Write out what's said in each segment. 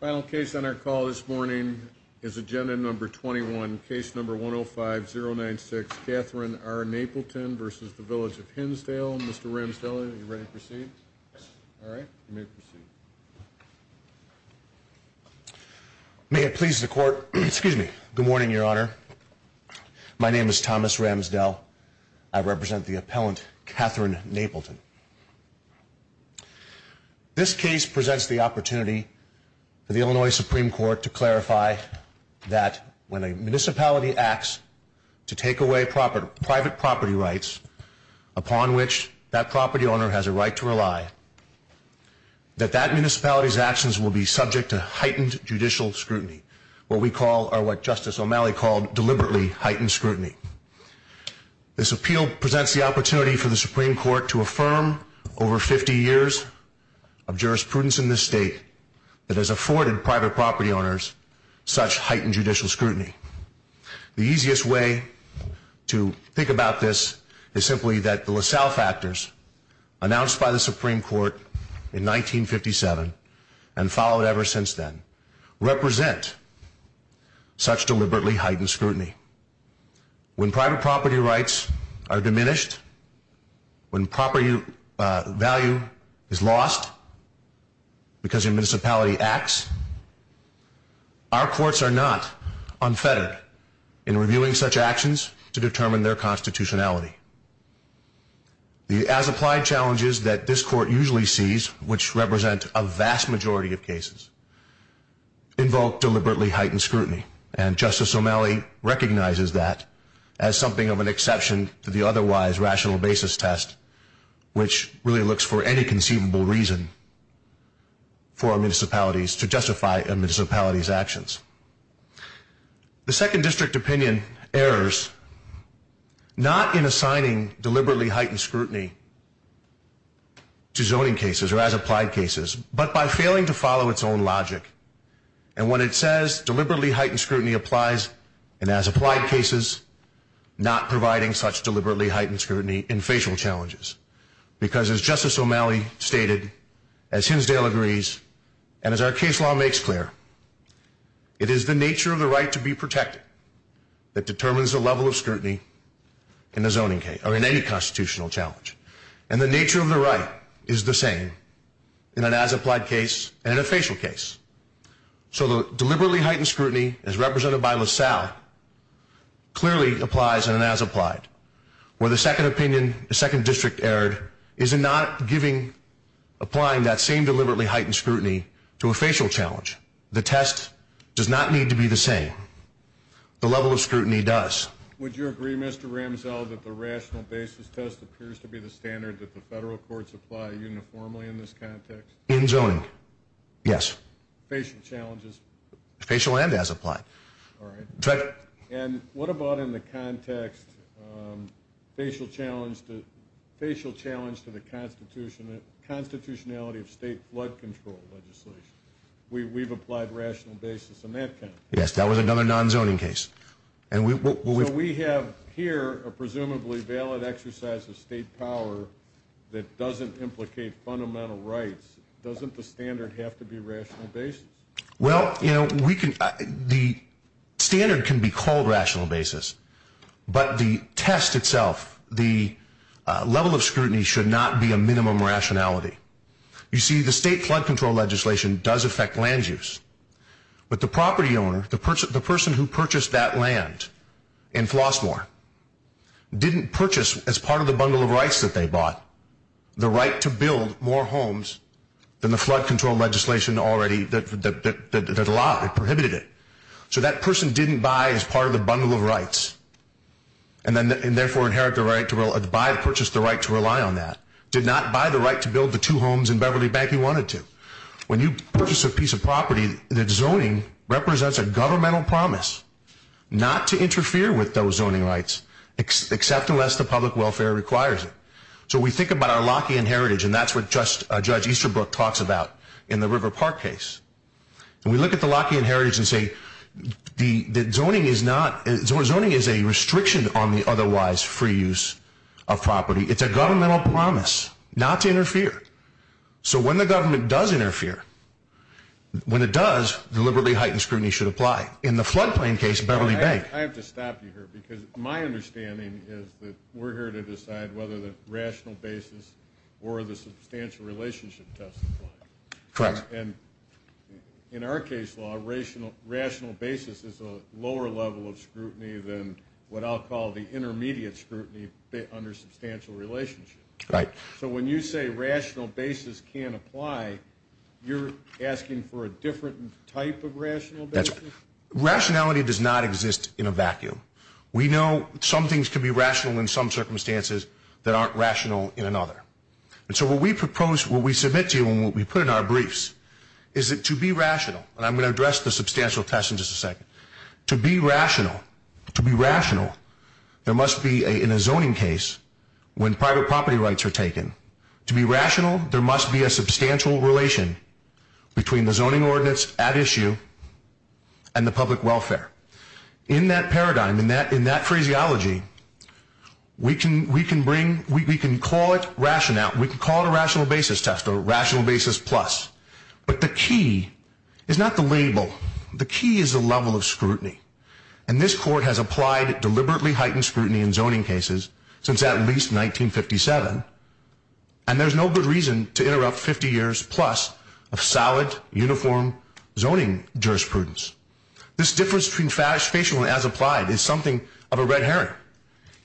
Final case on our call this morning is Agenda No. 21, Case No. 105-096, Katherine R. Napleton v. Village of Hinsdale. Mr. Ramsdell, are you ready to proceed? Yes. All right, you may proceed. May it please the Court. Excuse me. Good morning, Your Honor. My name is Thomas Ramsdell. I represent the appellant, Katherine Napleton. This case presents the opportunity for the Illinois Supreme Court to clarify that when a municipality acts to take away private property rights upon which that property owner has a right to rely, that that municipality's actions will be subject to heightened judicial scrutiny, what we call, or what Justice O'Malley called, deliberately heightened scrutiny. This appeal presents the opportunity for the Supreme Court to affirm over 50 years of jurisprudence in this state that has afforded private property owners such heightened judicial scrutiny. The easiest way to think about this is simply that the LaSalle factors announced by the Supreme Court in 1957 and followed ever since then represent such deliberately heightened scrutiny. When private property rights are diminished, when property value is lost because a municipality acts, our courts are not unfettered in reviewing such actions to determine their constitutionality. The as-applied challenges that this Court usually sees, which represent a vast majority of cases, invoke deliberately heightened scrutiny. And Justice O'Malley recognizes that as something of an exception to the otherwise rational basis test, which really looks for any conceivable reason for municipalities to justify a municipality's actions. The Second District opinion errs not in assigning deliberately heightened scrutiny to zoning cases or as-applied cases, but by failing to follow its own logic. And when it says deliberately heightened scrutiny applies in as-applied cases, not providing such deliberately heightened scrutiny in facial challenges. Because as Justice O'Malley stated, as Hinsdale agrees, and as our case law makes clear, it is the nature of the right to be protected that determines the level of scrutiny in any constitutional challenge. And the nature of the right is the same in an as-applied case and in a facial case. So the deliberately heightened scrutiny, as represented by LaSalle, clearly applies in an as-applied. Where the Second District erred is in not applying that same deliberately heightened scrutiny to a facial challenge. The test does not need to be the same. The level of scrutiny does. Would you agree, Mr. Ramsell, that the rational basis test appears to be the standard that the federal courts apply uniformly in this context? In zoning, yes. Facial challenges? Facial and as-applied. And what about in the context, facial challenge to the constitutionality of state flood control legislation? We've applied rational basis in that context. Yes, that was another non-zoning case. So we have here a presumably valid exercise of state power that doesn't implicate fundamental rights. Doesn't the standard have to be rational basis? Well, the standard can be called rational basis. But the test itself, the level of scrutiny, should not be a minimum rationality. You see, the state flood control legislation does affect land use. But the property owner, the person who purchased that land in Flossmoor, didn't purchase, as part of the bundle of rights that they bought, the right to build more homes than the flood control legislation already that prohibited it. So that person didn't buy as part of the bundle of rights and therefore inherit the right to purchase the right to rely on that. Did not buy the right to build the two homes in Beverly Bank he wanted to. When you purchase a piece of property, the zoning represents a governmental promise not to interfere with those zoning rights, except unless the public welfare requires it. So we think about our Lockean heritage, and that's what Judge Easterbrook talks about in the River Park case. We look at the Lockean heritage and say that zoning is a restriction on the otherwise free use of property. It's a governmental promise not to interfere. So when the government does interfere, when it does, deliberately heightened scrutiny should apply. In the floodplain case, Beverly Bank. I have to stop you here because my understanding is that we're here to decide whether the rational basis or the substantial relationship test applies. Correct. And in our case law, rational basis is a lower level of scrutiny than what I'll call the intermediate scrutiny under substantial relationship. Right. So when you say rational basis can't apply, you're asking for a different type of rational basis? Rationality does not exist in a vacuum. We know some things can be rational in some circumstances that aren't rational in another. And so what we propose, what we submit to you and what we put in our briefs is that to be rational, and I'm going to address the substantial test in just a second. To be rational, to be rational, there must be in a zoning case when private property rights are taken. To be rational, there must be a substantial relation between the zoning ordinance at issue and the public welfare. In that paradigm, in that phraseology, we can bring, we can call it rational, we can call it a rational basis test or rational basis plus. But the key is not the label. The key is the level of scrutiny. And this court has applied deliberately heightened scrutiny in zoning cases since at least 1957, and there's no good reason to interrupt 50 years plus of solid, uniform zoning jurisprudence. This difference between spatial and as applied is something of a red herring.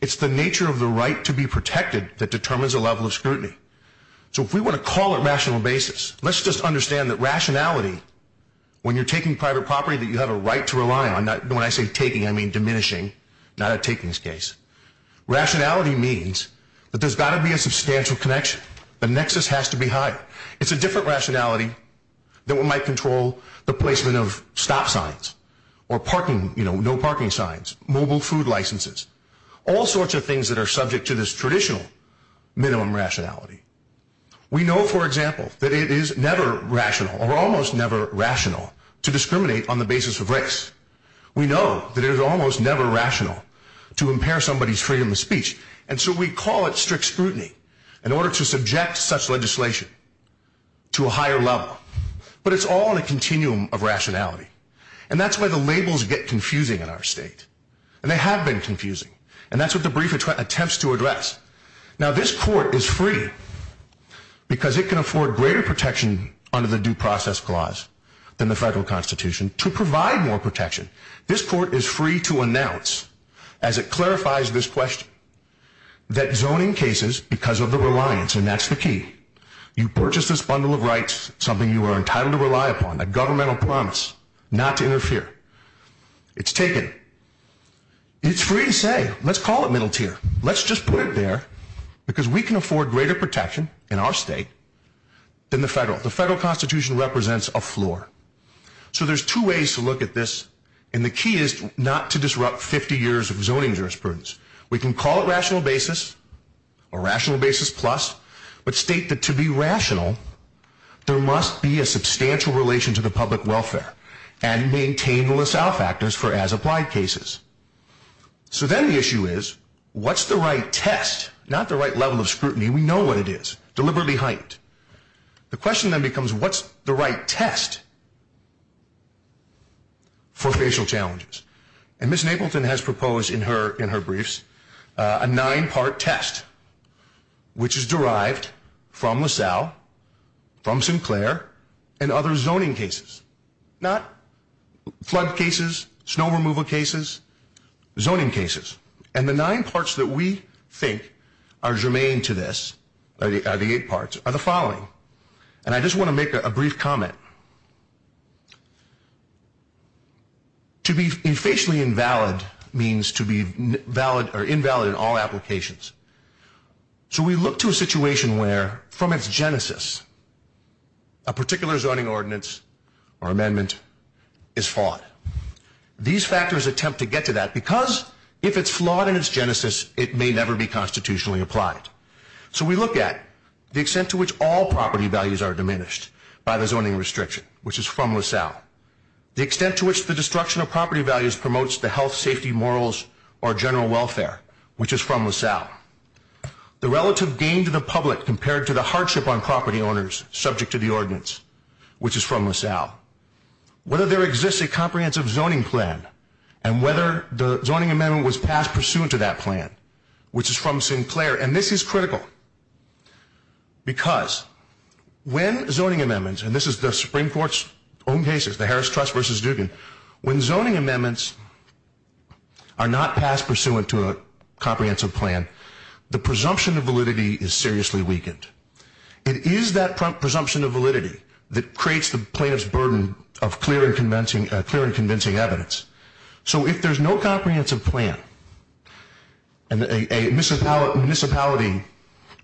It's the nature of the right to be protected that determines the level of scrutiny. So if we want to call it rational basis, let's just understand that rationality, when you're taking private property that you have a right to rely on, when I say taking, I mean diminishing, not a takings case. Rationality means that there's got to be a substantial connection. The nexus has to be higher. It's a different rationality than what might control the placement of stop signs or parking, you know, no parking signs, mobile food licenses. All sorts of things that are subject to this traditional minimum rationality. We know, for example, that it is never rational or almost never rational to discriminate on the basis of race. We know that it is almost never rational to impair somebody's freedom of speech. And so we call it strict scrutiny in order to subject such legislation to a higher level. But it's all in a continuum of rationality. And that's where the labels get confusing in our state. And they have been confusing. And that's what the brief attempts to address. Now this court is free because it can afford greater protection under the due process clause than the federal constitution to provide more protection. This court is free to announce, as it clarifies this question, that zoning cases, because of the reliance, and that's the key, you purchase this bundle of rights, something you are entitled to rely upon, a governmental promise not to interfere. It's taken. It's free to say, let's call it middle tier. Let's just put it there because we can afford greater protection in our state than the federal. The federal constitution represents a floor. So there's two ways to look at this. And the key is not to disrupt 50 years of zoning jurisprudence. We can call it rational basis, or rational basis plus, but state that to be rational, there must be a substantial relation to the public welfare and maintain the LaSalle factors for as-applied cases. So then the issue is, what's the right test? Not the right level of scrutiny. We know what it is. Deliberately heightened. The question then becomes, what's the right test for facial challenges? And Ms. Napleton has proposed in her briefs a nine-part test, which is derived from LaSalle, from Sinclair, and other zoning cases, not flood cases, snow removal cases, zoning cases. And the nine parts that we think are germane to this, the eight parts, are the following. And I just want to make a brief comment. To be facially invalid means to be invalid in all applications. So we look to a situation where, from its genesis, a particular zoning ordinance or amendment is flawed. These factors attempt to get to that because if it's flawed in its genesis, it may never be constitutionally applied. So we look at the extent to which all property values are diminished by the zoning restriction, which is from LaSalle. The extent to which the destruction of property values promotes the health, safety, morals, or general welfare, which is from LaSalle. The relative gain to the public compared to the hardship on property owners subject to the ordinance, which is from LaSalle. Whether there exists a comprehensive zoning plan, and whether the zoning amendment was passed pursuant to that plan, which is from Sinclair. And this is critical because when zoning amendments, and this is the Supreme Court's own cases, the Harris Trust versus Dugan, when zoning amendments are not passed pursuant to a comprehensive plan, the presumption of validity is seriously weakened. It is that presumption of validity that creates the plaintiff's burden of clear and convincing evidence. So if there's no comprehensive plan and a municipality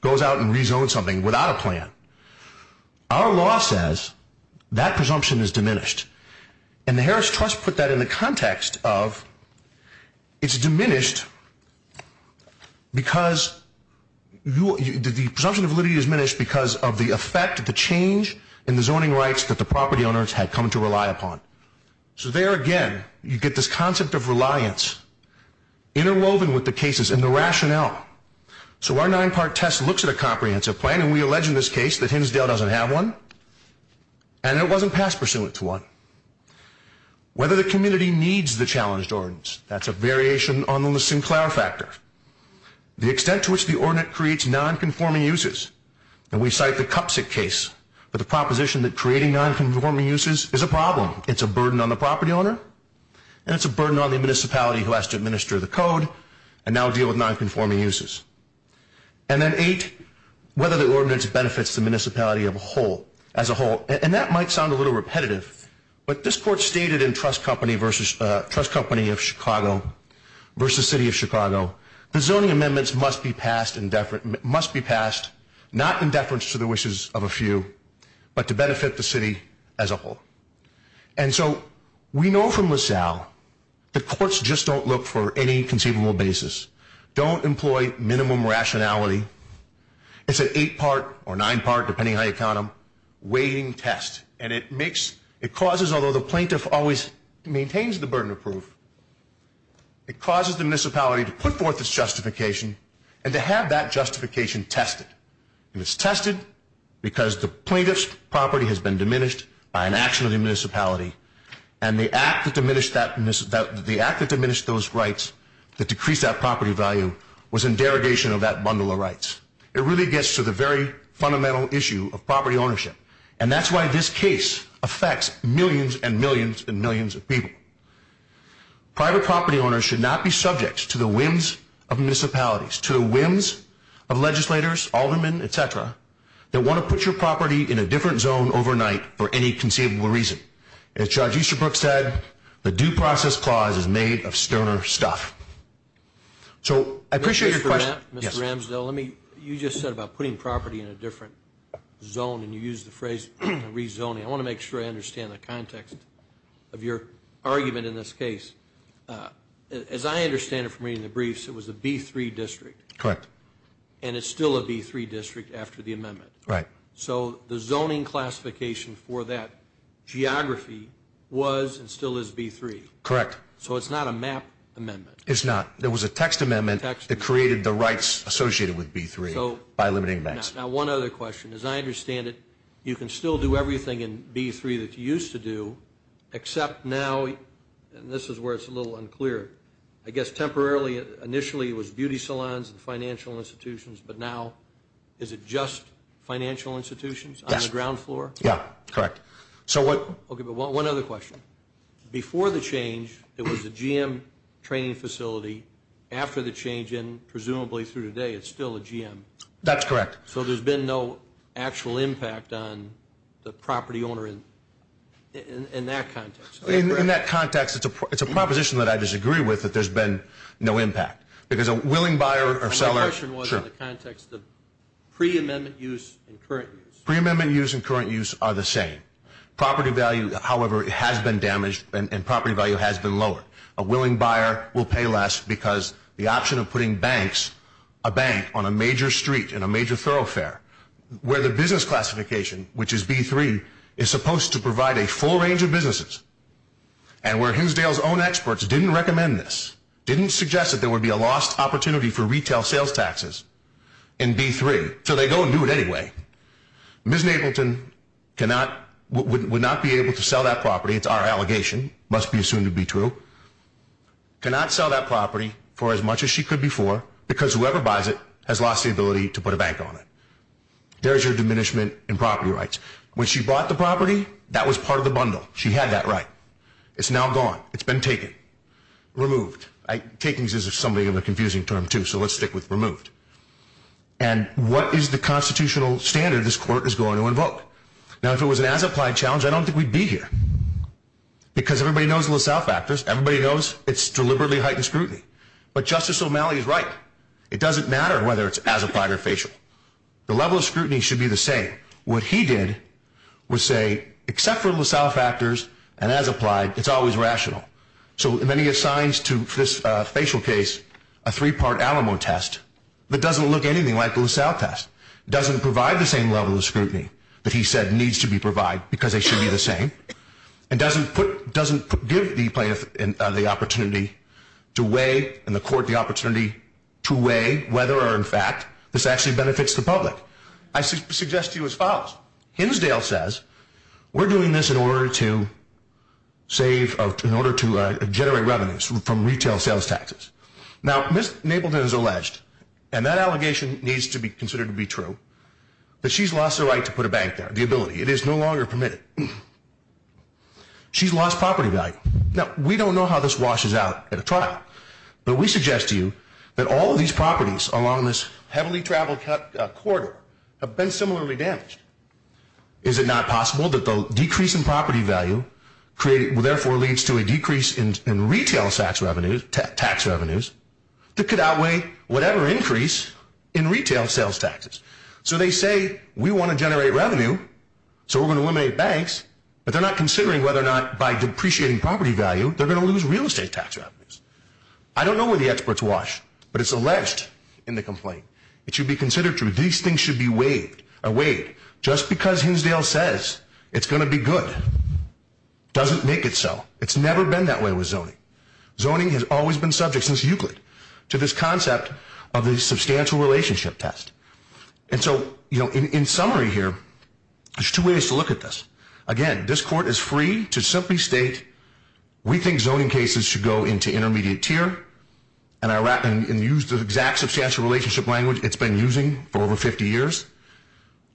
goes out and rezones something without a plan, our law says that presumption is diminished. And the Harris Trust put that in the context of it's diminished because the presumption of validity is diminished because of the effect, the change in the zoning rights that the property owners had come to rely upon. So there again, you get this concept of reliance interwoven with the cases and the rationale. So our nine-part test looks at a comprehensive plan, and we allege in this case that Hinsdale doesn't have one, and it wasn't passed pursuant to one. Whether the community needs the challenged ordinance, that's a variation on the Sinclair factor. The extent to which the ordinance creates nonconforming uses. And we cite the Cupsick case for the proposition that creating nonconforming uses is a problem. It's a burden on the property owner, and it's a burden on the municipality who has to administer the code and now deal with nonconforming uses. And then eight, whether the ordinance benefits the municipality as a whole. And that might sound a little repetitive, but this court stated in Trust Company of Chicago versus City of Chicago, the zoning amendments must be passed not in deference to the wishes of a few, but to benefit the city as a whole. And so we know from LaSalle, the courts just don't look for any conceivable basis. Don't employ minimum rationality. It's an eight-part or nine-part, depending on how you count them, weighing test. And it causes, although the plaintiff always maintains the burden of proof, it causes the municipality to put forth its justification and to have that justification tested. And it's tested because the plaintiff's property has been diminished by an action of the municipality. And the act that diminished those rights that decreased that property value was in derogation of that bundle of rights. It really gets to the very fundamental issue of property ownership, and that's why this case affects millions and millions and millions of people. Private property owners should not be subject to the whims of municipalities, to the whims of legislators, aldermen, et cetera, that want to put your property in a different zone overnight for any conceivable reason. As Judge Easterbrook said, the due process clause is made of sterner stuff. So I appreciate your question. Mr. Ramsdell, you just said about putting property in a different zone, and you used the phrase rezoning. I want to make sure I understand the context of your argument in this case. As I understand it from reading the briefs, it was a B3 district. Correct. And it's still a B3 district after the amendment. Right. So the zoning classification for that geography was and still is B3. Correct. So it's not a map amendment. It's not. There was a text amendment that created the rights associated with B3 by limiting maps. Now, one other question. As I understand it, you can still do everything in B3 that you used to do, except now, and this is where it's a little unclear, I guess temporarily, initially it was beauty salons and financial institutions, but now is it just financial institutions on the ground floor? Yes. Yeah, correct. Okay, but one other question. Before the change, it was a GM training facility. After the change in, presumably through today, it's still a GM. That's correct. So there's been no actual impact on the property owner in that context. In that context, it's a proposition that I disagree with, that there's been no impact, because a willing buyer or seller My question was in the context of pre-amendment use and current use. Pre-amendment use and current use are the same. Property value, however, has been damaged, and property value has been lowered. A willing buyer will pay less because the option of putting banks, a bank on a major street in a major thoroughfare, where the business classification, which is B3, is supposed to provide a full range of businesses, and where Hinsdale's own experts didn't recommend this, didn't suggest that there would be a lost opportunity for retail sales taxes in B3, so they go and do it anyway. Ms. Nableton would not be able to sell that property. It's our allegation. It must be assumed to be true. Cannot sell that property for as much as she could before, because whoever buys it has lost the ability to put a bank on it. There's your diminishment in property rights. When she bought the property, that was part of the bundle. She had that right. It's now gone. It's been taken. Removed. Taken is a confusing term, too, so let's stick with removed. And what is the constitutional standard this court is going to invoke? Now, if it was an as-applied challenge, I don't think we'd be here, because everybody knows the LaSalle factors. Everybody knows it's deliberately heightened scrutiny. But Justice O'Malley is right. It doesn't matter whether it's as-applied or facial. The level of scrutiny should be the same. What he did was say, except for LaSalle factors and as-applied, it's always rational. So then he assigns to this facial case a three-part Alamo test that doesn't look anything like the LaSalle test, doesn't provide the same level of scrutiny that he said needs to be provided because they should be the same, and doesn't give the plaintiff the opportunity to weigh, and the court the opportunity to weigh, whether or not, in fact, this actually benefits the public. I suggest to you as follows. Hinsdale says, we're doing this in order to save, in order to generate revenues from retail sales taxes. Now, Ms. Nableton has alleged, and that allegation needs to be considered to be true, that she's lost the right to put a bank there, the ability. It is no longer permitted. She's lost property value. Now, we don't know how this washes out at a trial, but we suggest to you that all of these properties along this heavily traveled corridor have been similarly damaged. Is it not possible that the decrease in property value therefore leads to a decrease in retail tax revenues that could outweigh whatever increase in retail sales taxes? So they say, we want to generate revenue, so we're going to eliminate banks, but they're not considering whether or not by depreciating property value they're going to lose real estate tax revenues. I don't know where the experts wash, but it's alleged in the complaint. It should be considered true. These things should be weighed. Just because Hinsdale says it's going to be good doesn't make it so. It's never been that way with zoning. Zoning has always been subject, since Euclid, to this concept of the substantial relationship test. And so, in summary here, there's two ways to look at this. Again, this court is free to simply state, we think zoning cases should go into intermediate tier, and use the exact substantial relationship language it's been using for over 50 years,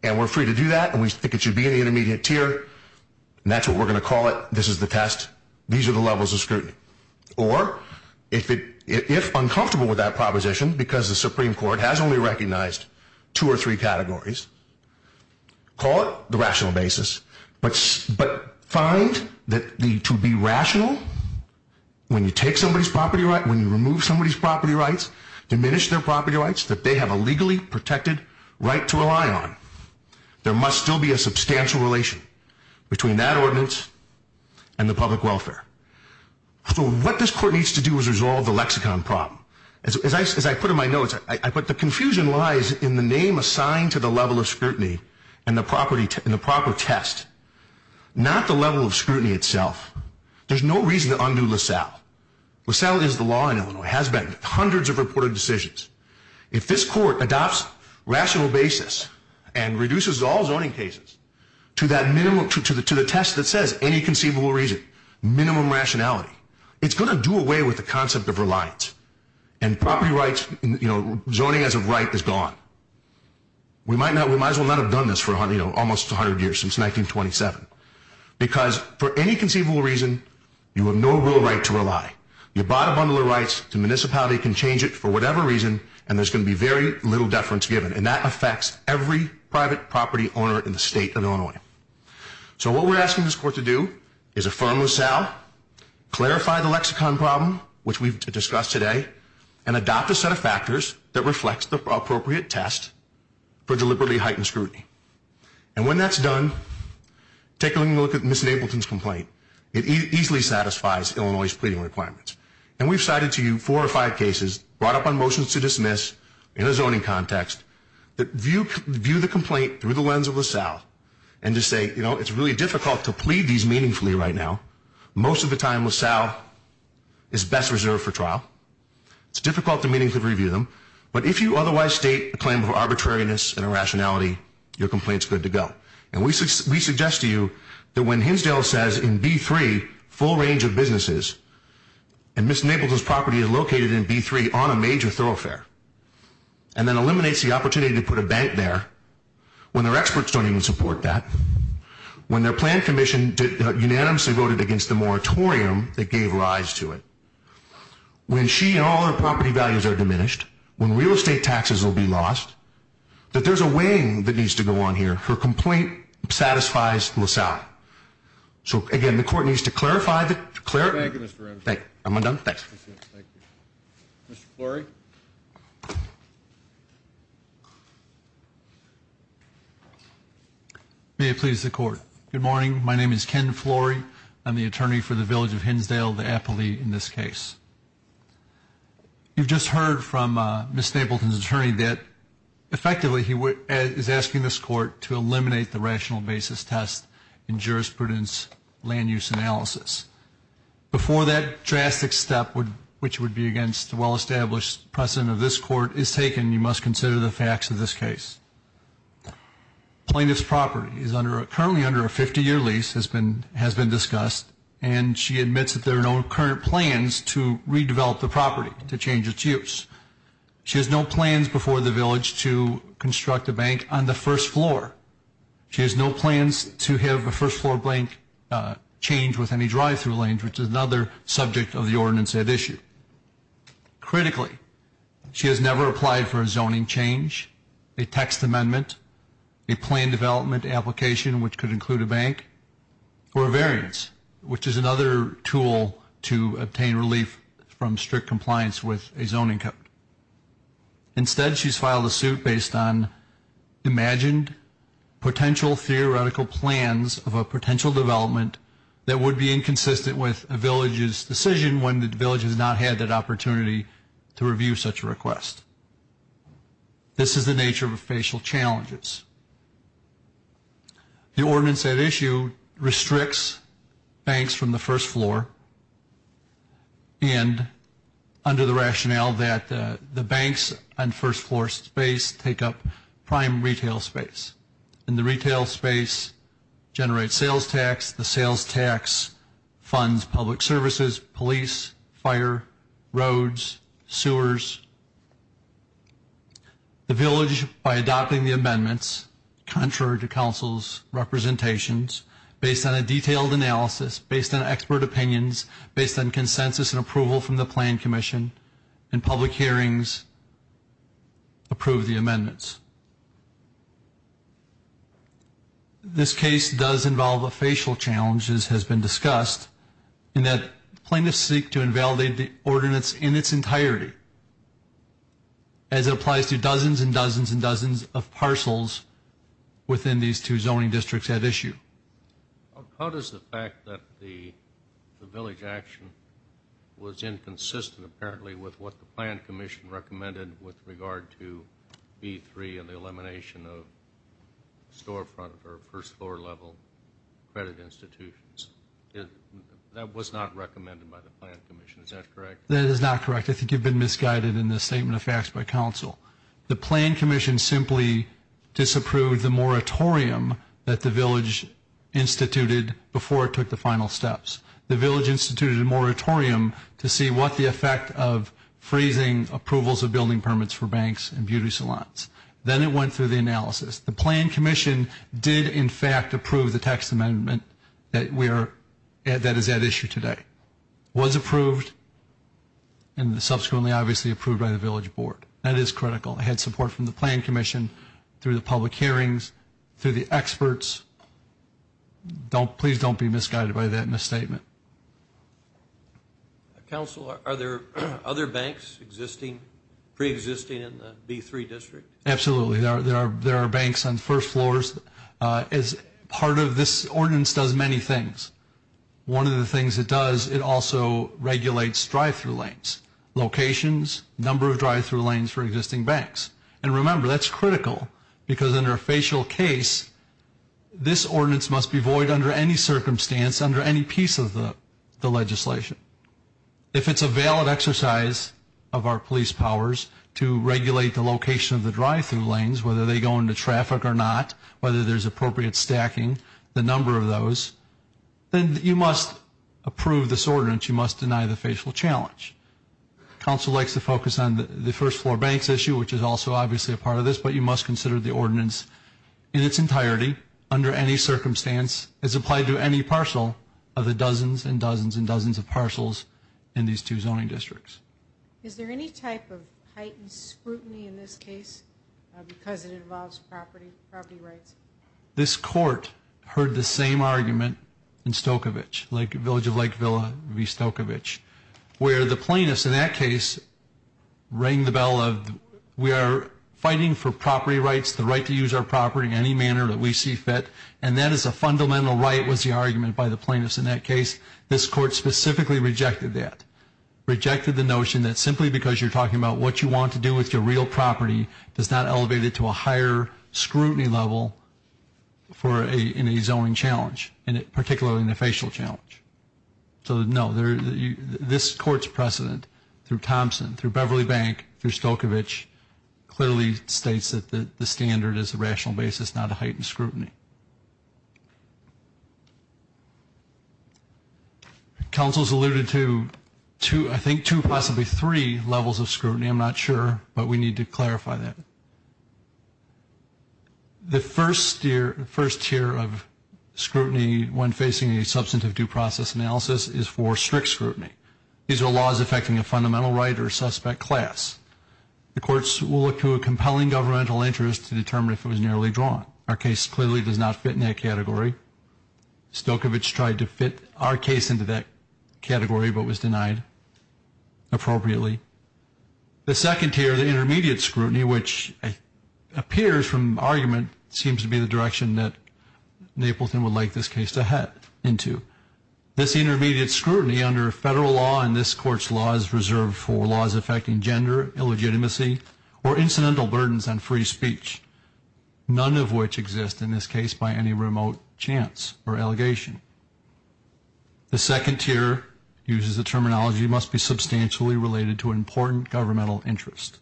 and we're free to do that, and we think it should be in the intermediate tier, and that's what we're going to call it. This is the test. These are the levels of scrutiny. Or, if uncomfortable with that proposition, because the Supreme Court has only recognized two or three categories, call it the rational basis. But find that to be rational, when you take somebody's property rights, when you remove somebody's property rights, diminish their property rights, that they have a legally protected right to rely on. There must still be a substantial relation between that ordinance and the public welfare. So what this court needs to do is resolve the lexicon problem. As I put in my notes, I put the confusion lies in the name assigned to the level of scrutiny and the proper test, not the level of scrutiny itself. There's no reason to undo LaSalle. LaSalle is the law in Illinois, has been. Hundreds of reported decisions. If this court adopts rational basis and reduces all zoning cases to the test that says any conceivable reason, minimum rationality, it's going to do away with the concept of reliance, and property rights, zoning as a right, is gone. We might as well not have done this for almost 100 years, since 1927. Because for any conceivable reason, you have no real right to rely. You bought a bundle of rights, the municipality can change it for whatever reason, and there's going to be very little deference given. And that affects every private property owner in the state of Illinois. So what we're asking this court to do is affirm LaSalle, clarify the lexicon problem, which we've discussed today, and adopt a set of factors that reflects the appropriate test for deliberately heightened scrutiny. And when that's done, take a look at Ms. Ableton's complaint. It easily satisfies Illinois' pleading requirements. And we've cited to you four or five cases brought up on motions to dismiss in a zoning context that view the complaint through the lens of LaSalle and just say, you know, it's really difficult to plead these meaningfully right now. Most of the time, LaSalle is best reserved for trial. It's difficult to meaningfully review them. But if you otherwise state a claim of arbitrariness and irrationality, your complaint's good to go. And we suggest to you that when Hinsdale says in B3, full range of businesses, and Ms. Ableton's property is located in B3 on a major thoroughfare, and then eliminates the opportunity to put a bank there, when their experts don't even support that, when their plan commission unanimously voted against the moratorium that gave rise to it, when she and all her property values are diminished, when real estate taxes will be lost, that there's a weighing that needs to go on here. Her complaint satisfies LaSalle. So, again, the court needs to clarify that. Thank you, Mr. Ramsey. Thank you. Am I done? May it please the court. Good morning. My name is Ken Florey. I'm the attorney for the village of Hinsdale, the Eppley, in this case. You've just heard from Ms. Ableton's attorney that, effectively, he is asking this court to eliminate the rational basis test in jurisprudence land use analysis. Before that drastic step, which would be against the well-established precedent of this court, is taken, you must consider the facts of this case. Plaintiff's property is currently under a 50-year lease, has been discussed, and she admits that there are no current plans to redevelop the property, to change its use. She has no plans before the village to construct a bank on the first floor. She has no plans to have a first-floor bank change with any drive-through lanes, Critically, she has never applied for a zoning change, a text amendment, a plan development application, which could include a bank, or a variance, which is another tool to obtain relief from strict compliance with a zoning code. Instead, she's filed a suit based on imagined potential theoretical plans of a potential development that would be inconsistent with a village's decision when the village has not had that opportunity to review such a request. This is the nature of official challenges. The ordinance at issue restricts banks from the first floor, and under the rationale that the banks on first-floor space take up prime retail space, and the retail space generates sales tax. The sales tax funds public services, police, fire, roads, sewers. The village, by adopting the amendments, contrary to council's representations, based on a detailed analysis, based on expert opinions, based on consensus and approval from the plan commission, and public hearings approve the amendments. This case does involve official challenges, has been discussed, in that plaintiffs seek to invalidate the ordinance in its entirety, as it applies to dozens and dozens and dozens of parcels within these two zoning districts at issue. How does the fact that the village action was inconsistent, apparently, with what the plan commission recommended with regard to B3 and the elimination of storefront or first-floor level credit institutions? That was not recommended by the plan commission. Is that correct? That is not correct. I think you've been misguided in the statement of facts by council. The plan commission simply disapproved the moratorium that the village instituted before it took the final steps. The village instituted a moratorium to see what the effect of freezing approvals of building permits for banks and beauty salons. Then it went through the analysis. The plan commission did, in fact, approve the tax amendment that is at issue today. It was approved and subsequently, obviously, approved by the village board. That is critical. It had support from the plan commission through the public hearings, through the experts. Please don't be misguided by that misstatement. Council, are there other banks existing, preexisting in the B3 district? Absolutely. There are banks on first floors. Part of this ordinance does many things. One of the things it does, it also regulates drive-through lanes, locations, number of drive-through lanes for existing banks. And remember, that's critical because under a facial case, this ordinance must be void under any circumstance, under any piece of the legislation. If it's a valid exercise of our police powers to regulate the location of the drive-through lanes, whether they go into traffic or not, whether there's appropriate stacking, the number of those, then you must approve this ordinance. You must deny the facial challenge. Council likes to focus on the first floor banks issue, which is also obviously a part of this, but you must consider the ordinance in its entirety under any circumstance as applied to any parcel of the dozens and dozens and dozens of parcels in these two zoning districts. Is there any type of heightened scrutiny in this case because it involves property rights? This court heard the same argument in Stokovitch, Village of Lake Villa v. Stokovitch, where the plaintiffs in that case rang the bell of we are fighting for property rights, the right to use our property in any manner that we see fit, and that is a fundamental right was the argument by the plaintiffs in that case. This court specifically rejected that, rejected the notion that simply because you're talking about what you want to do with your real property does not elevate it to a higher scrutiny level in a zoning challenge, particularly in a facial challenge. So, no, this court's precedent through Thompson, through Beverly Bank, through Stokovitch, clearly states that the standard is a rational basis, not a heightened scrutiny. Council has alluded to, I think, two, possibly three levels of scrutiny. I'm not sure, but we need to clarify that. The first tier of scrutiny when facing a substantive due process analysis is for strict scrutiny. These are laws affecting a fundamental right or suspect class. The courts will look to a compelling governmental interest to determine if it was nearly drawn. Our case clearly does not fit in that category. Stokovitch tried to fit our case into that category but was denied appropriately. The second tier, the intermediate scrutiny, which appears from argument, seems to be the direction that Napleton would like this case to head into. This intermediate scrutiny under federal law in this court's law is reserved for laws affecting gender, illegitimacy, or incidental burdens on free speech, none of which exist in this case by any remote chance or allegation. The second tier uses the terminology, must be substantially related to an important governmental interest.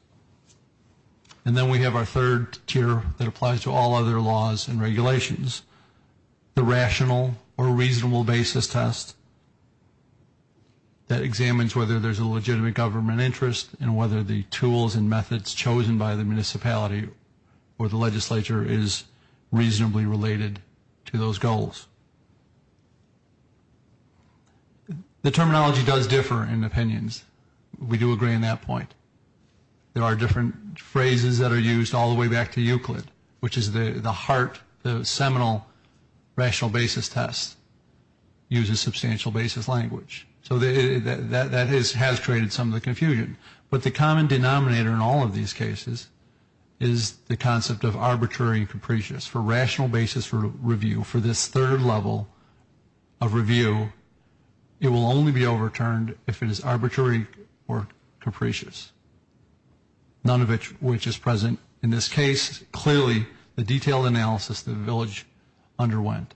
And then we have our third tier that applies to all other laws and regulations, the rational or reasonable basis test that examines whether there's a legitimate government interest and whether the tools and methods chosen by the municipality or the legislature is reasonably related to those goals. The terminology does differ in opinions. We do agree on that point. There are different phrases that are used all the way back to Euclid, which is the heart, the seminal rational basis test uses substantial basis language. So that has created some of the confusion. But the common denominator in all of these cases is the concept of arbitrary and capricious. For rational basis review, for this third level of review, it will only be overturned if it is arbitrary or capricious, none of which is present in this case. Clearly, the detailed analysis that the village underwent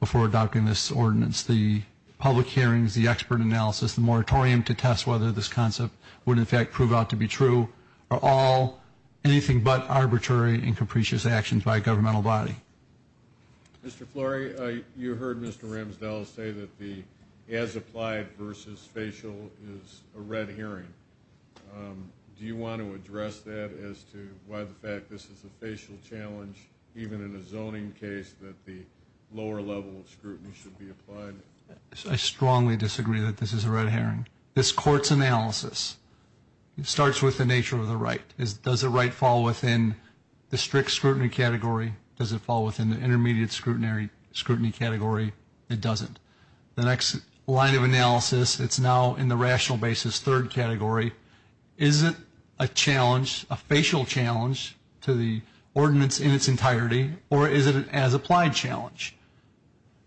before adopting this ordinance, the public hearings, the expert analysis, the moratorium to test whether this concept would, in fact, prove out to be true, are all anything but arbitrary and capricious actions by a governmental body. Mr. Flory, you heard Mr. Ramsdell say that the as applied versus facial is a red hearing. Do you want to address that as to why the fact this is a facial challenge, even in a zoning case, that the lower level of scrutiny should be applied? I strongly disagree that this is a red hearing. This court's analysis starts with the nature of the right. Does the right fall within the strict scrutiny category? Does it fall within the intermediate scrutiny category? It doesn't. The next line of analysis, it's now in the rational basis third category. Is it a challenge, a facial challenge, to the ordinance in its entirety, or is it an as applied challenge?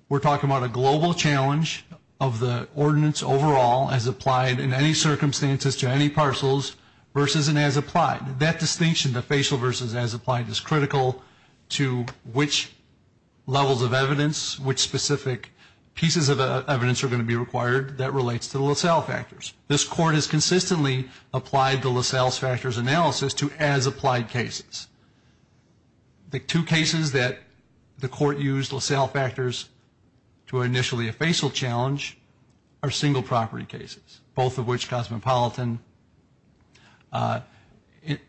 We're talking about a global challenge of the ordinance overall, as applied in any circumstances to any parcels, versus an as applied. That distinction, the facial versus as applied, is critical to which levels of evidence, which specific pieces of evidence are going to be required that relates to the LaSalle factors. This court has consistently applied the LaSalle factors analysis to as applied cases. The two cases that the court used LaSalle factors to initially a facial challenge are single property cases, both of which Cosmopolitan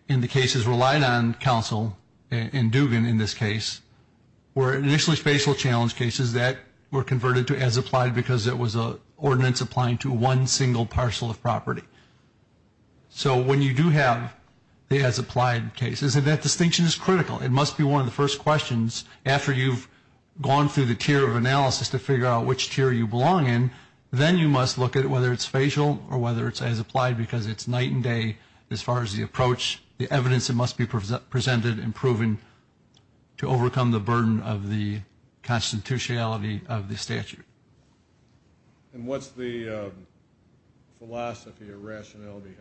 in the cases relied on counsel, and Dugan in this case, were initially facial challenge cases that were converted to as applied because it was an ordinance applying to one single parcel of property. So when you do have the as applied cases, that distinction is critical. It must be one of the first questions, after you've gone through the tier of analysis to figure out which tier you belong in, then you must look at whether it's facial or whether it's as applied, because it's night and day as far as the approach, the evidence that must be presented and proven to overcome the burden of the constitutionality of the statute. And what's the philosophy or rationale behind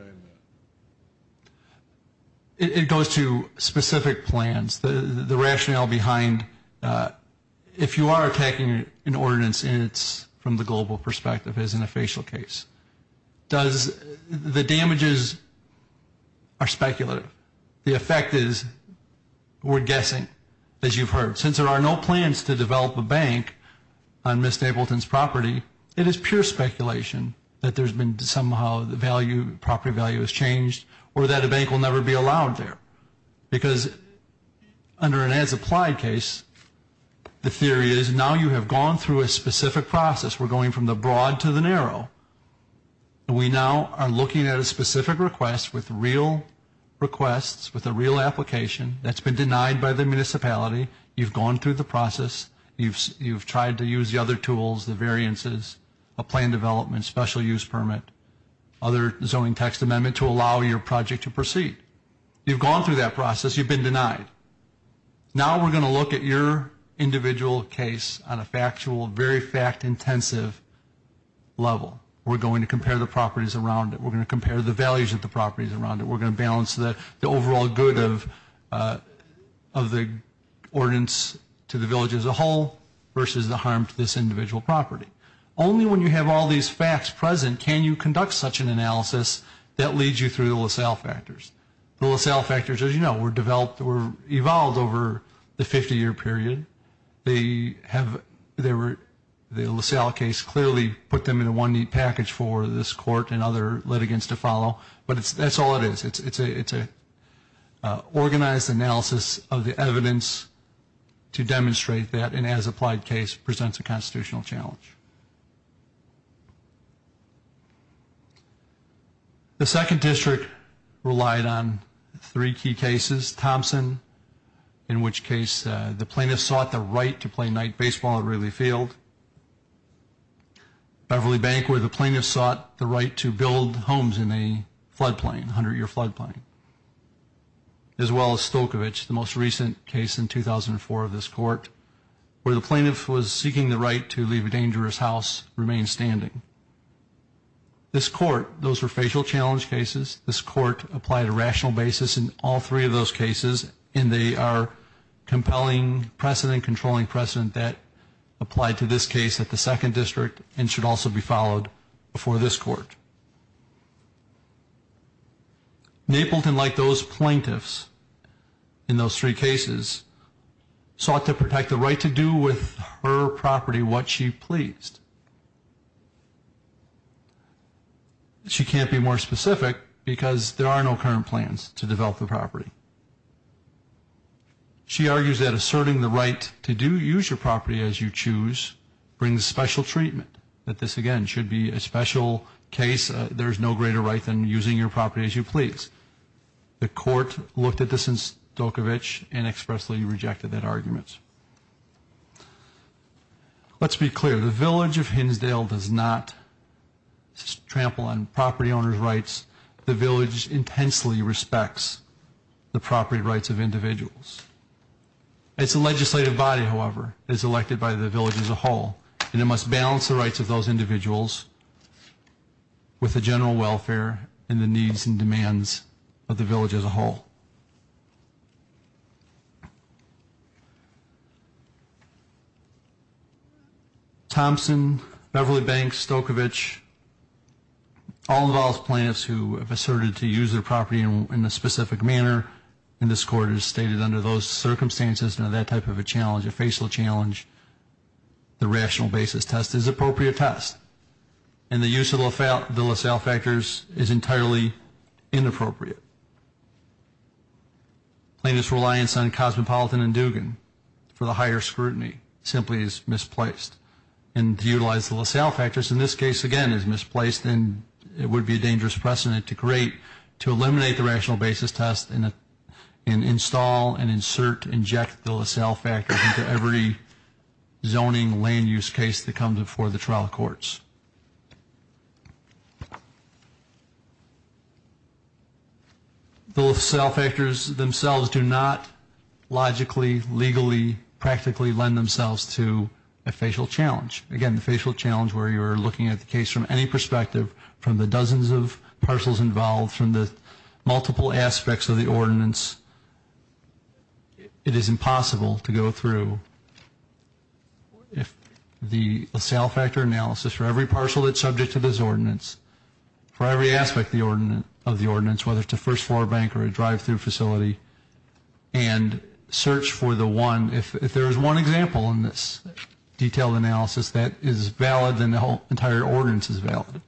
that? It goes to specific plans. The rationale behind, if you are attacking an ordinance, from the global perspective, isn't a facial case. The damages are speculative. The effect is we're guessing, as you've heard. Since there are no plans to develop a bank on Ms. Stapleton's property, it is pure speculation that there's been somehow the property value has changed or that a bank will never be allowed there. Because under an as applied case, the theory is now you have gone through a specific process. We're going from the broad to the narrow. We now are looking at a specific request with real requests, with a real application that's been denied by the municipality. You've gone through the process. You've tried to use the other tools, the variances, a plan development, special use permit, other zoning text amendment to allow your project to proceed. You've gone through that process. You've been denied. Now we're going to look at your individual case on a factual, very fact intensive level. We're going to compare the properties around it. We're going to compare the values of the properties around it. We're going to balance the overall good of the ordinance to the village as a whole versus the harm to this individual property. Only when you have all these facts present can you conduct such an analysis that leads you through the LaSalle factors. The LaSalle factors, as you know, were developed or evolved over the 50-year period. The LaSalle case clearly put them in one neat package for this court and other litigants to follow. But that's all it is. It's an organized analysis of the evidence to demonstrate that an as applied case presents a constitutional challenge. The second district relied on three key cases. Thompson, in which case the plaintiff sought the right to play night baseball at Ridley Field. Beverly Bank, where the plaintiff sought the right to build homes in a floodplain, 100-year floodplain. As well as Stokovich, the most recent case in 2004 of this court, where the plaintiff was seeking the right to leave a dangerous house, remain standing. This court, those were facial challenge cases. This court applied a rational basis in all three of those cases, and they are compelling precedent, controlling precedent that applied to this case at the second district and should also be followed before this court. Napleton, like those plaintiffs in those three cases, sought to protect the right to do with her property what she pleased. She can't be more specific because there are no current plans to develop the property. She argues that asserting the right to do use your property as you choose brings special treatment, that this, again, should be a special case. There is no greater right than using your property as you please. The court looked at this in Stokovich and expressly rejected that argument. Let's be clear. The village of Hinsdale does not trample on property owners' rights. The village intensely respects the property rights of individuals. It's a legislative body, however, that is elected by the village as a whole, and it must balance the rights of those individuals with the general welfare and the needs and demands of the village as a whole. Thompson, Beverly Banks, Stokovich, all of those plaintiffs who have asserted to use their property in a specific manner in this court stated under those circumstances and that type of a challenge, a facial challenge, the rational basis test is an appropriate test, and the use of the LaSalle factors is entirely inappropriate. Plaintiffs' reliance on Cosmopolitan and Dugan for the higher scrutiny simply is misplaced, and to utilize the LaSalle factors in this case, again, is misplaced, and it would be a dangerous precedent to eliminate the rational basis test and install and insert and inject the LaSalle factors into every zoning land use case that comes before the trial courts. The LaSalle factors themselves do not logically, legally, practically lend themselves to a facial challenge. Again, the facial challenge where you're looking at the case from any perspective, from the dozens of parcels involved, from the multiple aspects of the ordinance, it is impossible to go through the LaSalle factor analysis for every parcel that's subject to this ordinance, for every aspect of the ordinance, whether it's a first floor bank or a drive-through facility, and search for the one, if there is one example in this detailed analysis that is valid, then the entire ordinance is valid.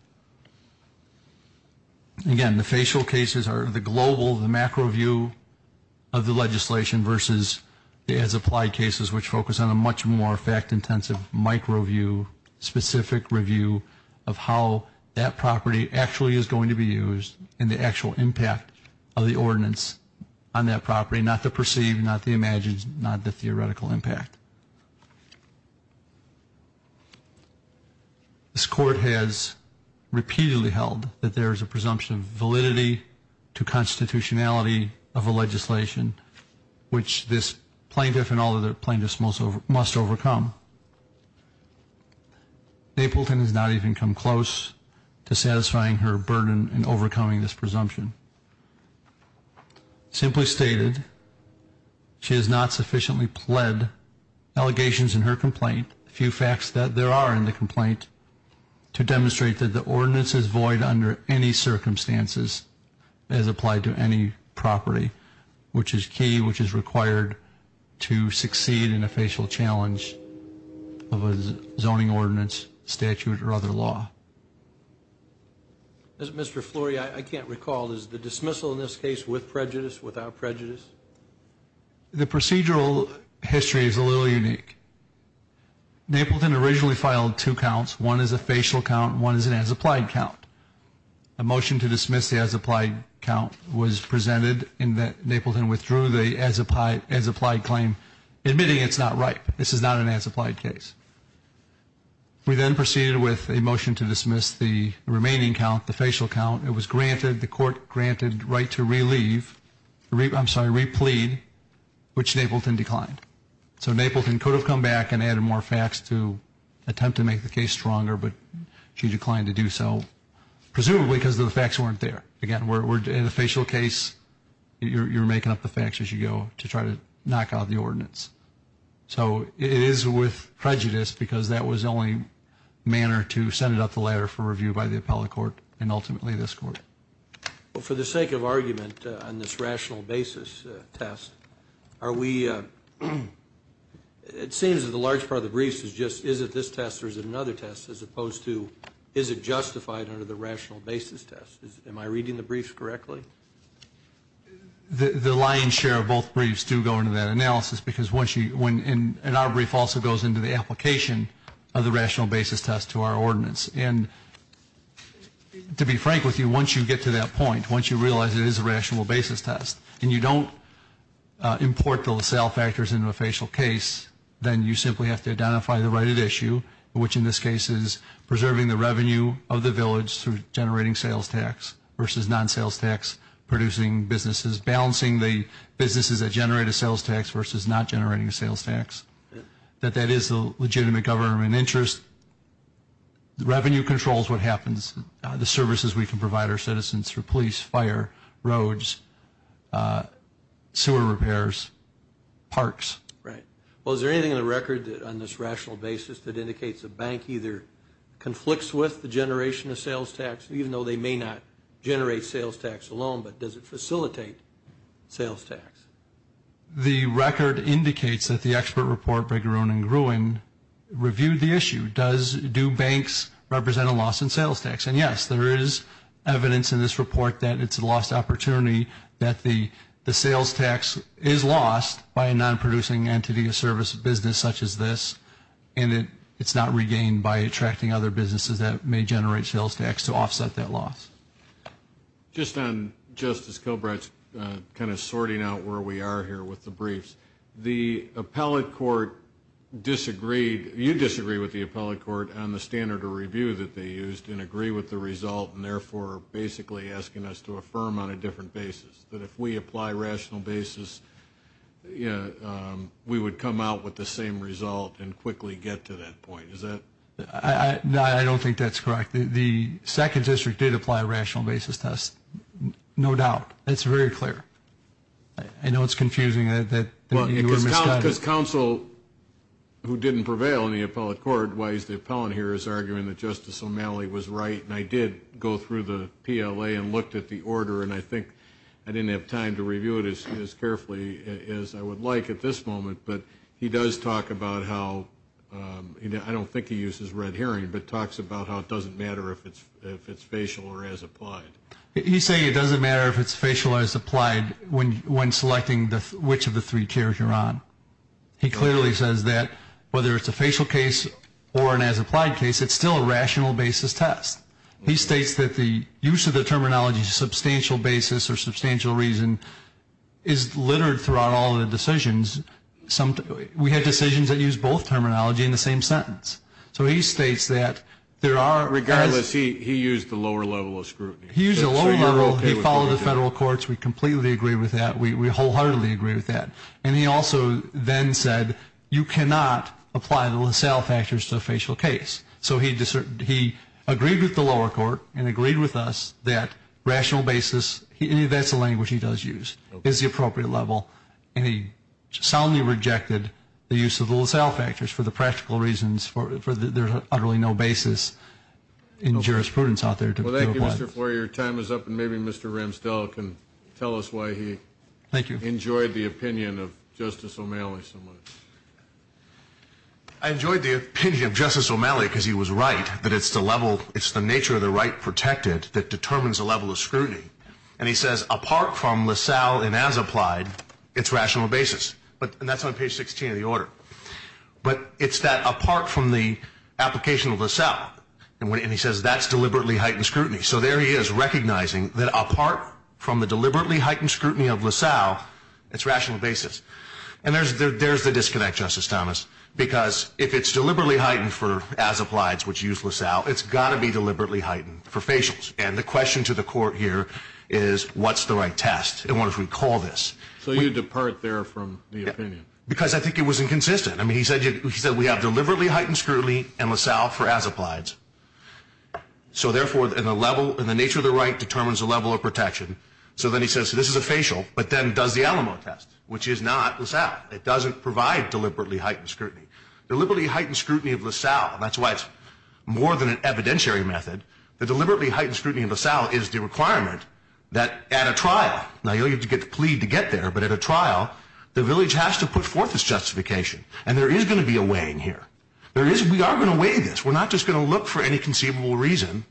Again, the facial cases are the global, the macro view of the legislation versus the as-applied cases, which focus on a much more fact-intensive micro view, specific review of how that property actually is going to be used and the actual impact of the ordinance on that property, not the perceived, not the imagined, not the theoretical impact. This court has repeatedly held that there is a presumption of validity to constitutionality of a legislation, which this plaintiff and all other plaintiffs must overcome. Napleton has not even come close to satisfying her burden in overcoming this presumption. Simply stated, she has not sufficiently pled allegations in her complaint, a few facts that there are in the complaint, to demonstrate that the ordinance is void under any circumstances as applied to any property, which is key, which is required to succeed in a facial challenge. Of a zoning ordinance statute or other law. Mr. Flory, I can't recall, is the dismissal in this case with prejudice, without prejudice? The procedural history is a little unique. Napleton originally filed two counts. One is a facial count and one is an as-applied count. A motion to dismiss the as-applied count was presented in that Napleton withdrew the as-applied claim, admitting it's not right. This is not an as-applied case. We then proceeded with a motion to dismiss the remaining count, the facial count. It was granted, the court granted right to re-leave, I'm sorry, re-plead, which Napleton declined. So Napleton could have come back and added more facts to attempt to make the case stronger, but she declined to do so, presumably because the facts weren't there. Again, in a facial case, you're making up the facts as you go to try to knock out the ordinance. So it is with prejudice because that was the only manner to send it up the ladder for review by the appellate court and ultimately this court. For the sake of argument on this rational basis test, are we, it seems that a large part of the briefs is just, is it this test or is it another test, as opposed to, is it justified under the rational basis test? Am I reading the briefs correctly? The lion's share of both briefs do go into that analysis because once you, and our brief also goes into the application of the rational basis test to our ordinance. And to be frank with you, once you get to that point, once you realize it is a rational basis test and you don't import the LaSalle factors into a facial case, then you simply have to identify the right at issue, which in this case is preserving the revenue of the village through generating sales tax versus non-sales tax, producing businesses, balancing the businesses that generate a sales tax versus not generating a sales tax. That that is a legitimate government interest. Revenue controls what happens, the services we can provide our citizens through police, fire, roads, sewer repairs, parks. Right. Well, is there anything in the record on this rational basis that indicates a bank either conflicts with the generation of sales tax, even though they may not generate sales tax alone, but does it facilitate sales tax? The record indicates that the expert report by Gruen reviewed the issue. Do banks represent a loss in sales tax? And, yes, there is evidence in this report that it's a lost opportunity, that the sales tax is lost by a non-producing entity or service business such as this, and it's not regained by attracting other businesses that may generate sales tax to offset that loss. Just on Justice Kilbride's kind of sorting out where we are here with the briefs, the appellate court disagreed, you disagreed with the appellate court on the standard of review that they used and agree with the result and, therefore, basically asking us to affirm on a different basis, that if we apply rational basis, we would come out with the same result and quickly get to that point. Is that? No, I don't think that's correct. The second district did apply a rational basis to us, no doubt. It's very clear. I know it's confusing that you were misguided. Well, because counsel who didn't prevail in the appellate court, the appellant here is arguing that Justice O'Malley was right, and I did go through the PLA and looked at the order, and I think I didn't have time to review it as carefully as I would like at this moment, but he does talk about how, I don't think he uses red herring, but talks about how it doesn't matter if it's facial or as applied. He's saying it doesn't matter if it's facial or as applied when selecting which of the three chairs you're on. He clearly says that whether it's a facial case or an as applied case, it's still a rational basis test. He states that the use of the terminology substantial basis or substantial reason is littered throughout all the decisions. We had decisions that used both terminology in the same sentence. So he states that there are. Regardless, he used the lower level of scrutiny. He used the lower level. He followed the federal courts. We completely agree with that. We wholeheartedly agree with that. And he also then said you cannot apply the LaSalle factors to a facial case. So he agreed with the lower court and agreed with us that rational basis, that's the language he does use, is the appropriate level, and he soundly rejected the use of the LaSalle factors for the practical reasons for there's utterly no basis in jurisprudence out there to apply. Well, thank you, Mr. Floyer. Your time is up, and maybe Mr. Ramsdell can tell us why he enjoyed the opinion. I enjoyed the opinion of Justice O'Malley so much. I enjoyed the opinion of Justice O'Malley because he was right that it's the level, it's the nature of the right protected that determines the level of scrutiny. And he says apart from LaSalle and as applied, it's rational basis. And that's on page 16 of the order. But it's that apart from the application of LaSalle, and he says that's deliberately heightened scrutiny. So there he is recognizing that apart from the deliberately heightened scrutiny of LaSalle, it's rational basis. And there's the disconnect, Justice Thomas, because if it's deliberately heightened for as applied, which used LaSalle, it's got to be deliberately heightened for facials. And the question to the court here is what's the right test? And what if we call this? So you depart there from the opinion. Because I think it was inconsistent. I mean, he said we have deliberately heightened scrutiny and LaSalle for as applied. So, therefore, in the nature of the right determines the level of protection. So then he says this is a facial, but then does the Alamo test, which is not LaSalle. It doesn't provide deliberately heightened scrutiny. Deliberately heightened scrutiny of LaSalle, and that's why it's more than an evidentiary method, the deliberately heightened scrutiny of LaSalle is the requirement that at a trial, now you'll have to plead to get there, but at a trial, the village has to put forth its justification. And there is going to be a weighing here. We are going to weigh this. We're not just going to look for any conceivable reason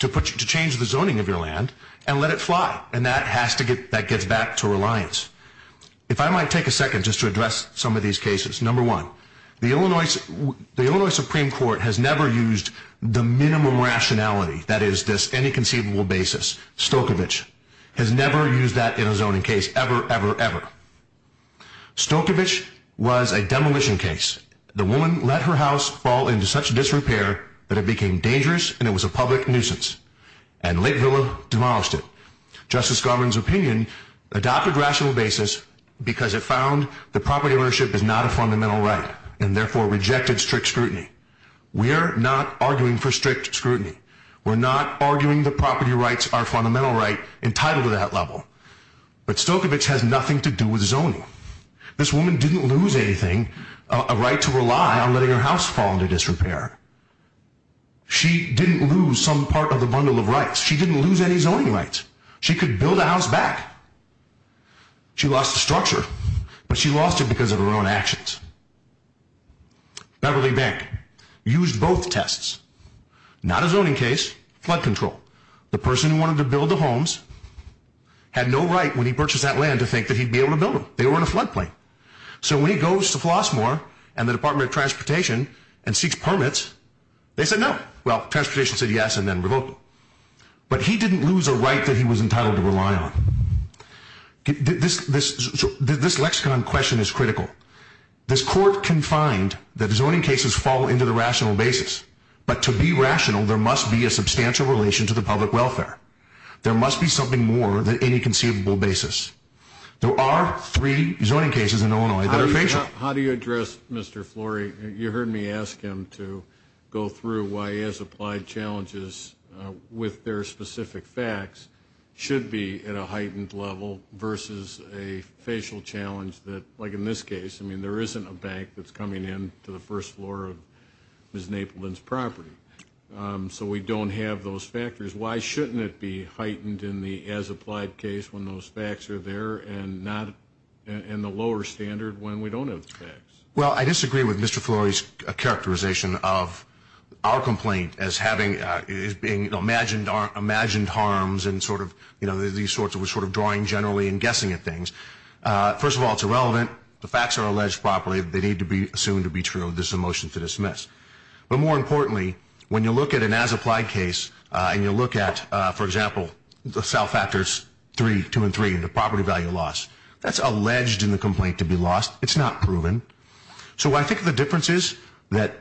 to change the zoning of your land and let it fly, and that gets back to reliance. If I might take a second just to address some of these cases. Number one, the Illinois Supreme Court has never used the minimum rationality, that is, this any conceivable basis. Stokovich has never used that in a zoning case ever, ever, ever. Stokovich was a demolition case. The woman let her house fall into such disrepair that it became dangerous, and it was a public nuisance. And Lake Villa demolished it. Justice Garland's opinion adopted rational basis because it found that property ownership is not a fundamental right and therefore rejected strict scrutiny. We are not arguing for strict scrutiny. We're not arguing that property rights are a fundamental right entitled to that level. But Stokovich has nothing to do with zoning. This woman didn't lose anything, a right to rely on letting her house fall into disrepair. She didn't lose some part of the bundle of rights. She didn't lose any zoning rights. She could build a house back. She lost the structure, but she lost it because of her own actions. Beverly Bank used both tests. Not a zoning case, flood control. The person who wanted to build the homes had no right, when he purchased that land, to think that he'd be able to build them. They were in a floodplain. So when he goes to Flossmoor and the Department of Transportation and seeks permits, they said no. Well, Transportation said yes and then revoked them. But he didn't lose a right that he was entitled to rely on. This lexicon question is critical. This court can find that zoning cases fall into the rational basis, but to be rational, there must be a substantial relation to the public welfare. There must be something more than any conceivable basis. There are three zoning cases in Illinois that are facial. How do you address Mr. Flory? You heard me ask him to go through why as-applied challenges with their specific facts should be at a heightened level versus a facial challenge that, like in this case, I mean there isn't a bank that's coming in to the first floor of Ms. Napleton's property. So we don't have those factors. Why shouldn't it be heightened in the as-applied case when those facts are there and not in the lower standard when we don't have the facts? Well, I disagree with Mr. Flory's characterization of our complaint as having imagined harms and sort of drawing generally and guessing at things. First of all, it's irrelevant. The facts are alleged properly. They need to be assumed to be true. This is a motion to dismiss. But more importantly, when you look at an as-applied case and you look at, for example, the self-factors 3, 2, and 3, the property value loss, that's alleged in the complaint to be lost. It's not proven. So I think the difference is that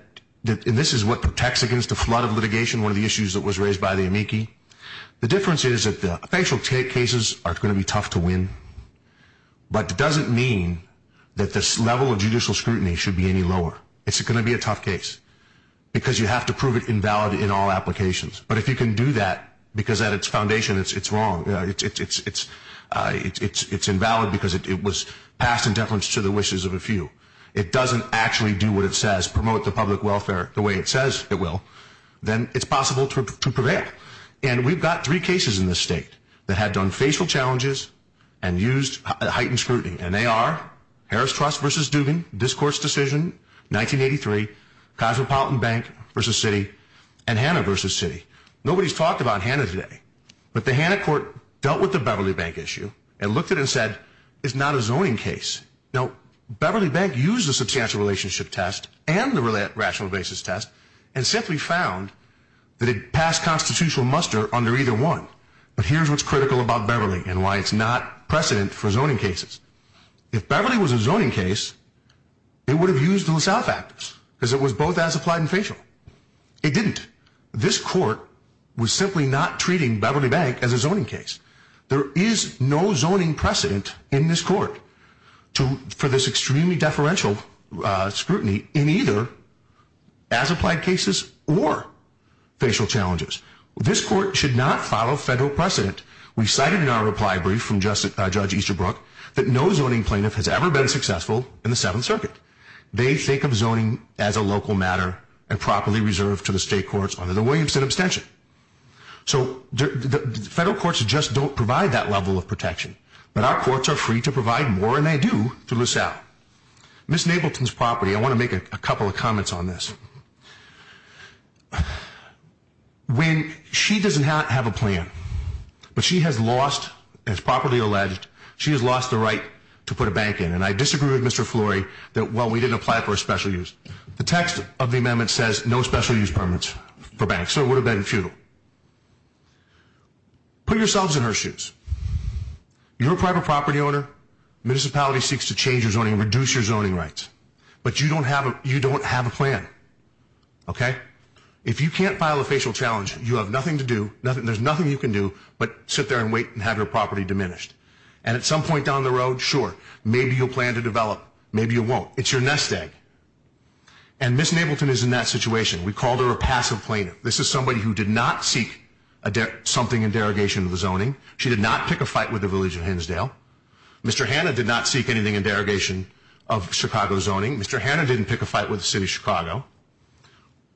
this is what protects against a flood of litigation, one of the issues that was raised by the amici. The difference is that the facial cases are going to be tough to win, but it doesn't mean that the level of judicial scrutiny should be any lower. It's going to be a tough case because you have to prove it invalid in all applications. But if you can do that because at its foundation it's wrong, it's invalid because it was passed in deference to the wishes of a few, it doesn't actually do what it says, promote the public welfare the way it says it will, then it's possible to prevail. And we've got three cases in this state that have done facial challenges and used heightened scrutiny, and they are Harris Trust v. Dubin, this court's decision, 1983, Cosmopolitan Bank v. Citi, and Hanna v. Citi. Nobody's talked about Hanna today. But the Hanna court dealt with the Beverly Bank issue and looked at it and said, it's not a zoning case. Now, Beverly Bank used the substantial relationship test and the rational basis test and simply found that it passed constitutional muster under either one. But here's what's critical about Beverly and why it's not precedent for zoning cases. If Beverly was a zoning case, it would have used the LaSalle factors because it was both as applied and facial. It didn't. This court was simply not treating Beverly Bank as a zoning case. There is no zoning precedent in this court for this extremely deferential scrutiny in either as applied cases or facial challenges. This court should not follow federal precedent. We cited in our reply brief from Judge Easterbrook that no zoning plaintiff has ever been successful in the Seventh Circuit. They think of zoning as a local matter and properly reserved to the state courts under the Williamson abstention. So federal courts just don't provide that level of protection, but our courts are free to provide more, and they do, to LaSalle. Ms. Nableton's property, I want to make a couple of comments on this. When she does not have a plan, but she has lost, as property alleged, she has lost the right to put a bank in. And I disagree with Mr. Flory that, well, we didn't apply for a special use. The text of the amendment says no special use permits for banks, so it would have been futile. Put yourselves in her shoes. You're a private property owner. Municipality seeks to change your zoning and reduce your zoning rights. But you don't have a plan, okay? If you can't file a facial challenge, you have nothing to do, there's nothing you can do but sit there and wait and have your property diminished. And at some point down the road, sure, maybe you'll plan to develop, maybe you won't. It's your nest egg. And Ms. Nableton is in that situation. We called her a passive plaintiff. This is somebody who did not seek something in derogation of the zoning. She did not pick a fight with the village of Hinsdale. Mr. Hanna did not seek anything in derogation of Chicago zoning. Mr. Hanna didn't pick a fight with the city of Chicago.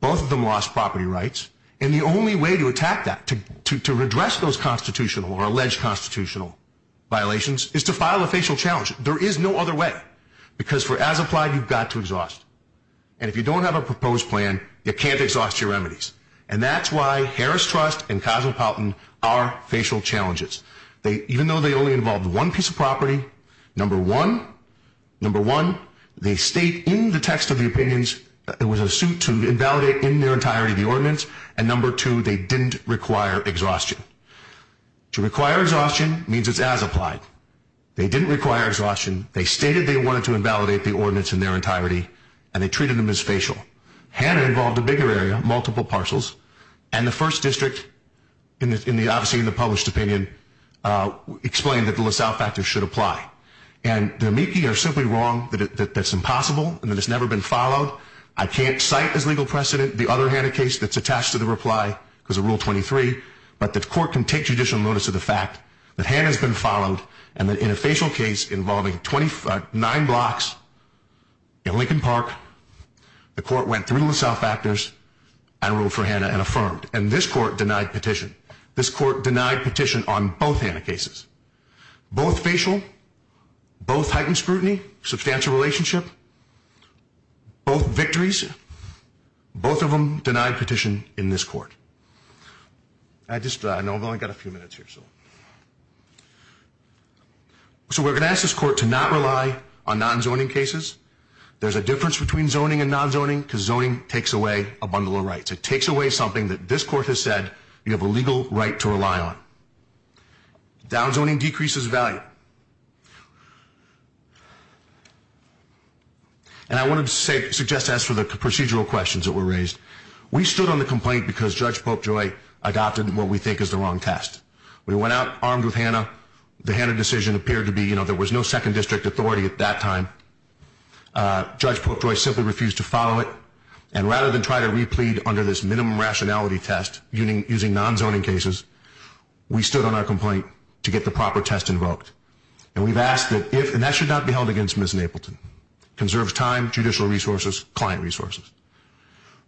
Both of them lost property rights. And the only way to attack that, to redress those constitutional or alleged constitutional violations, is to file a facial challenge. There is no other way. Because as applied, you've got to exhaust. And if you don't have a proposed plan, you can't exhaust your remedies. And that's why Harris Trust and Cosmopolitan are facial challenges. Even though they only involved one piece of property, number one, they state in the text of the opinions that it was a suit to invalidate in their entirety the ordinance, and number two, they didn't require exhaustion. To require exhaustion means it's as applied. They didn't require exhaustion. They stated they wanted to invalidate the ordinance in their entirety, and they treated them as facial. Hanna involved a bigger area, multiple parcels, and the first district, obviously in the published opinion, explained that the LaSalle factors should apply. And the amici are simply wrong that that's impossible and that it's never been followed. I can't cite as legal precedent the other Hanna case that's attached to the reply, because of Rule 23, but the court can take judicial notice of the fact that Hanna's been followed, and that in a facial case involving nine blocks in Lincoln Park, the court went through the LaSalle factors and ruled for Hanna and affirmed. And this court denied petition. This court denied petition on both Hanna cases. Both facial, both heightened scrutiny, substantial relationship, both victories, both of them denied petition in this court. I've only got a few minutes here. So we're going to ask this court to not rely on nonzoning cases. There's a difference between zoning and nonzoning, because zoning takes away a bundle of rights. It takes away something that this court has said you have a legal right to rely on. Downzoning decreases value. And I want to suggest to ask for the procedural questions that were raised. We stood on the complaint because Judge Popejoy adopted what we think is the wrong test. We went out armed with Hanna. The Hanna decision appeared to be, you know, there was no second district authority at that time. Judge Popejoy simply refused to follow it. And rather than try to replead under this minimum rationality test using nonzoning cases, we stood on our complaint to get the proper test invoked. And we've asked that if, and that should not be held against Ms. Napleton. Conserves time, judicial resources, client resources.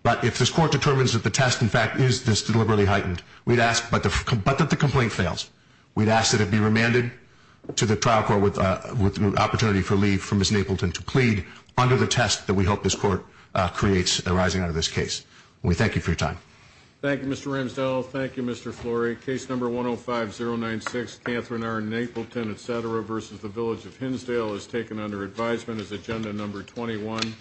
But if this court determines that the test, in fact, is this deliberately heightened, we'd ask, but that the complaint fails, we'd ask that it be remanded to the trial court with the opportunity for leave for Ms. Napleton to plead under the test that we hope this court creates arising out of this case. We thank you for your time. Thank you, Mr. Ramsdell. Thank you, Mr. Flory. Case number 105-096, Kanthren R. Napleton, etc., versus the Village of Hinsdale is taken under advisement as agenda number 21.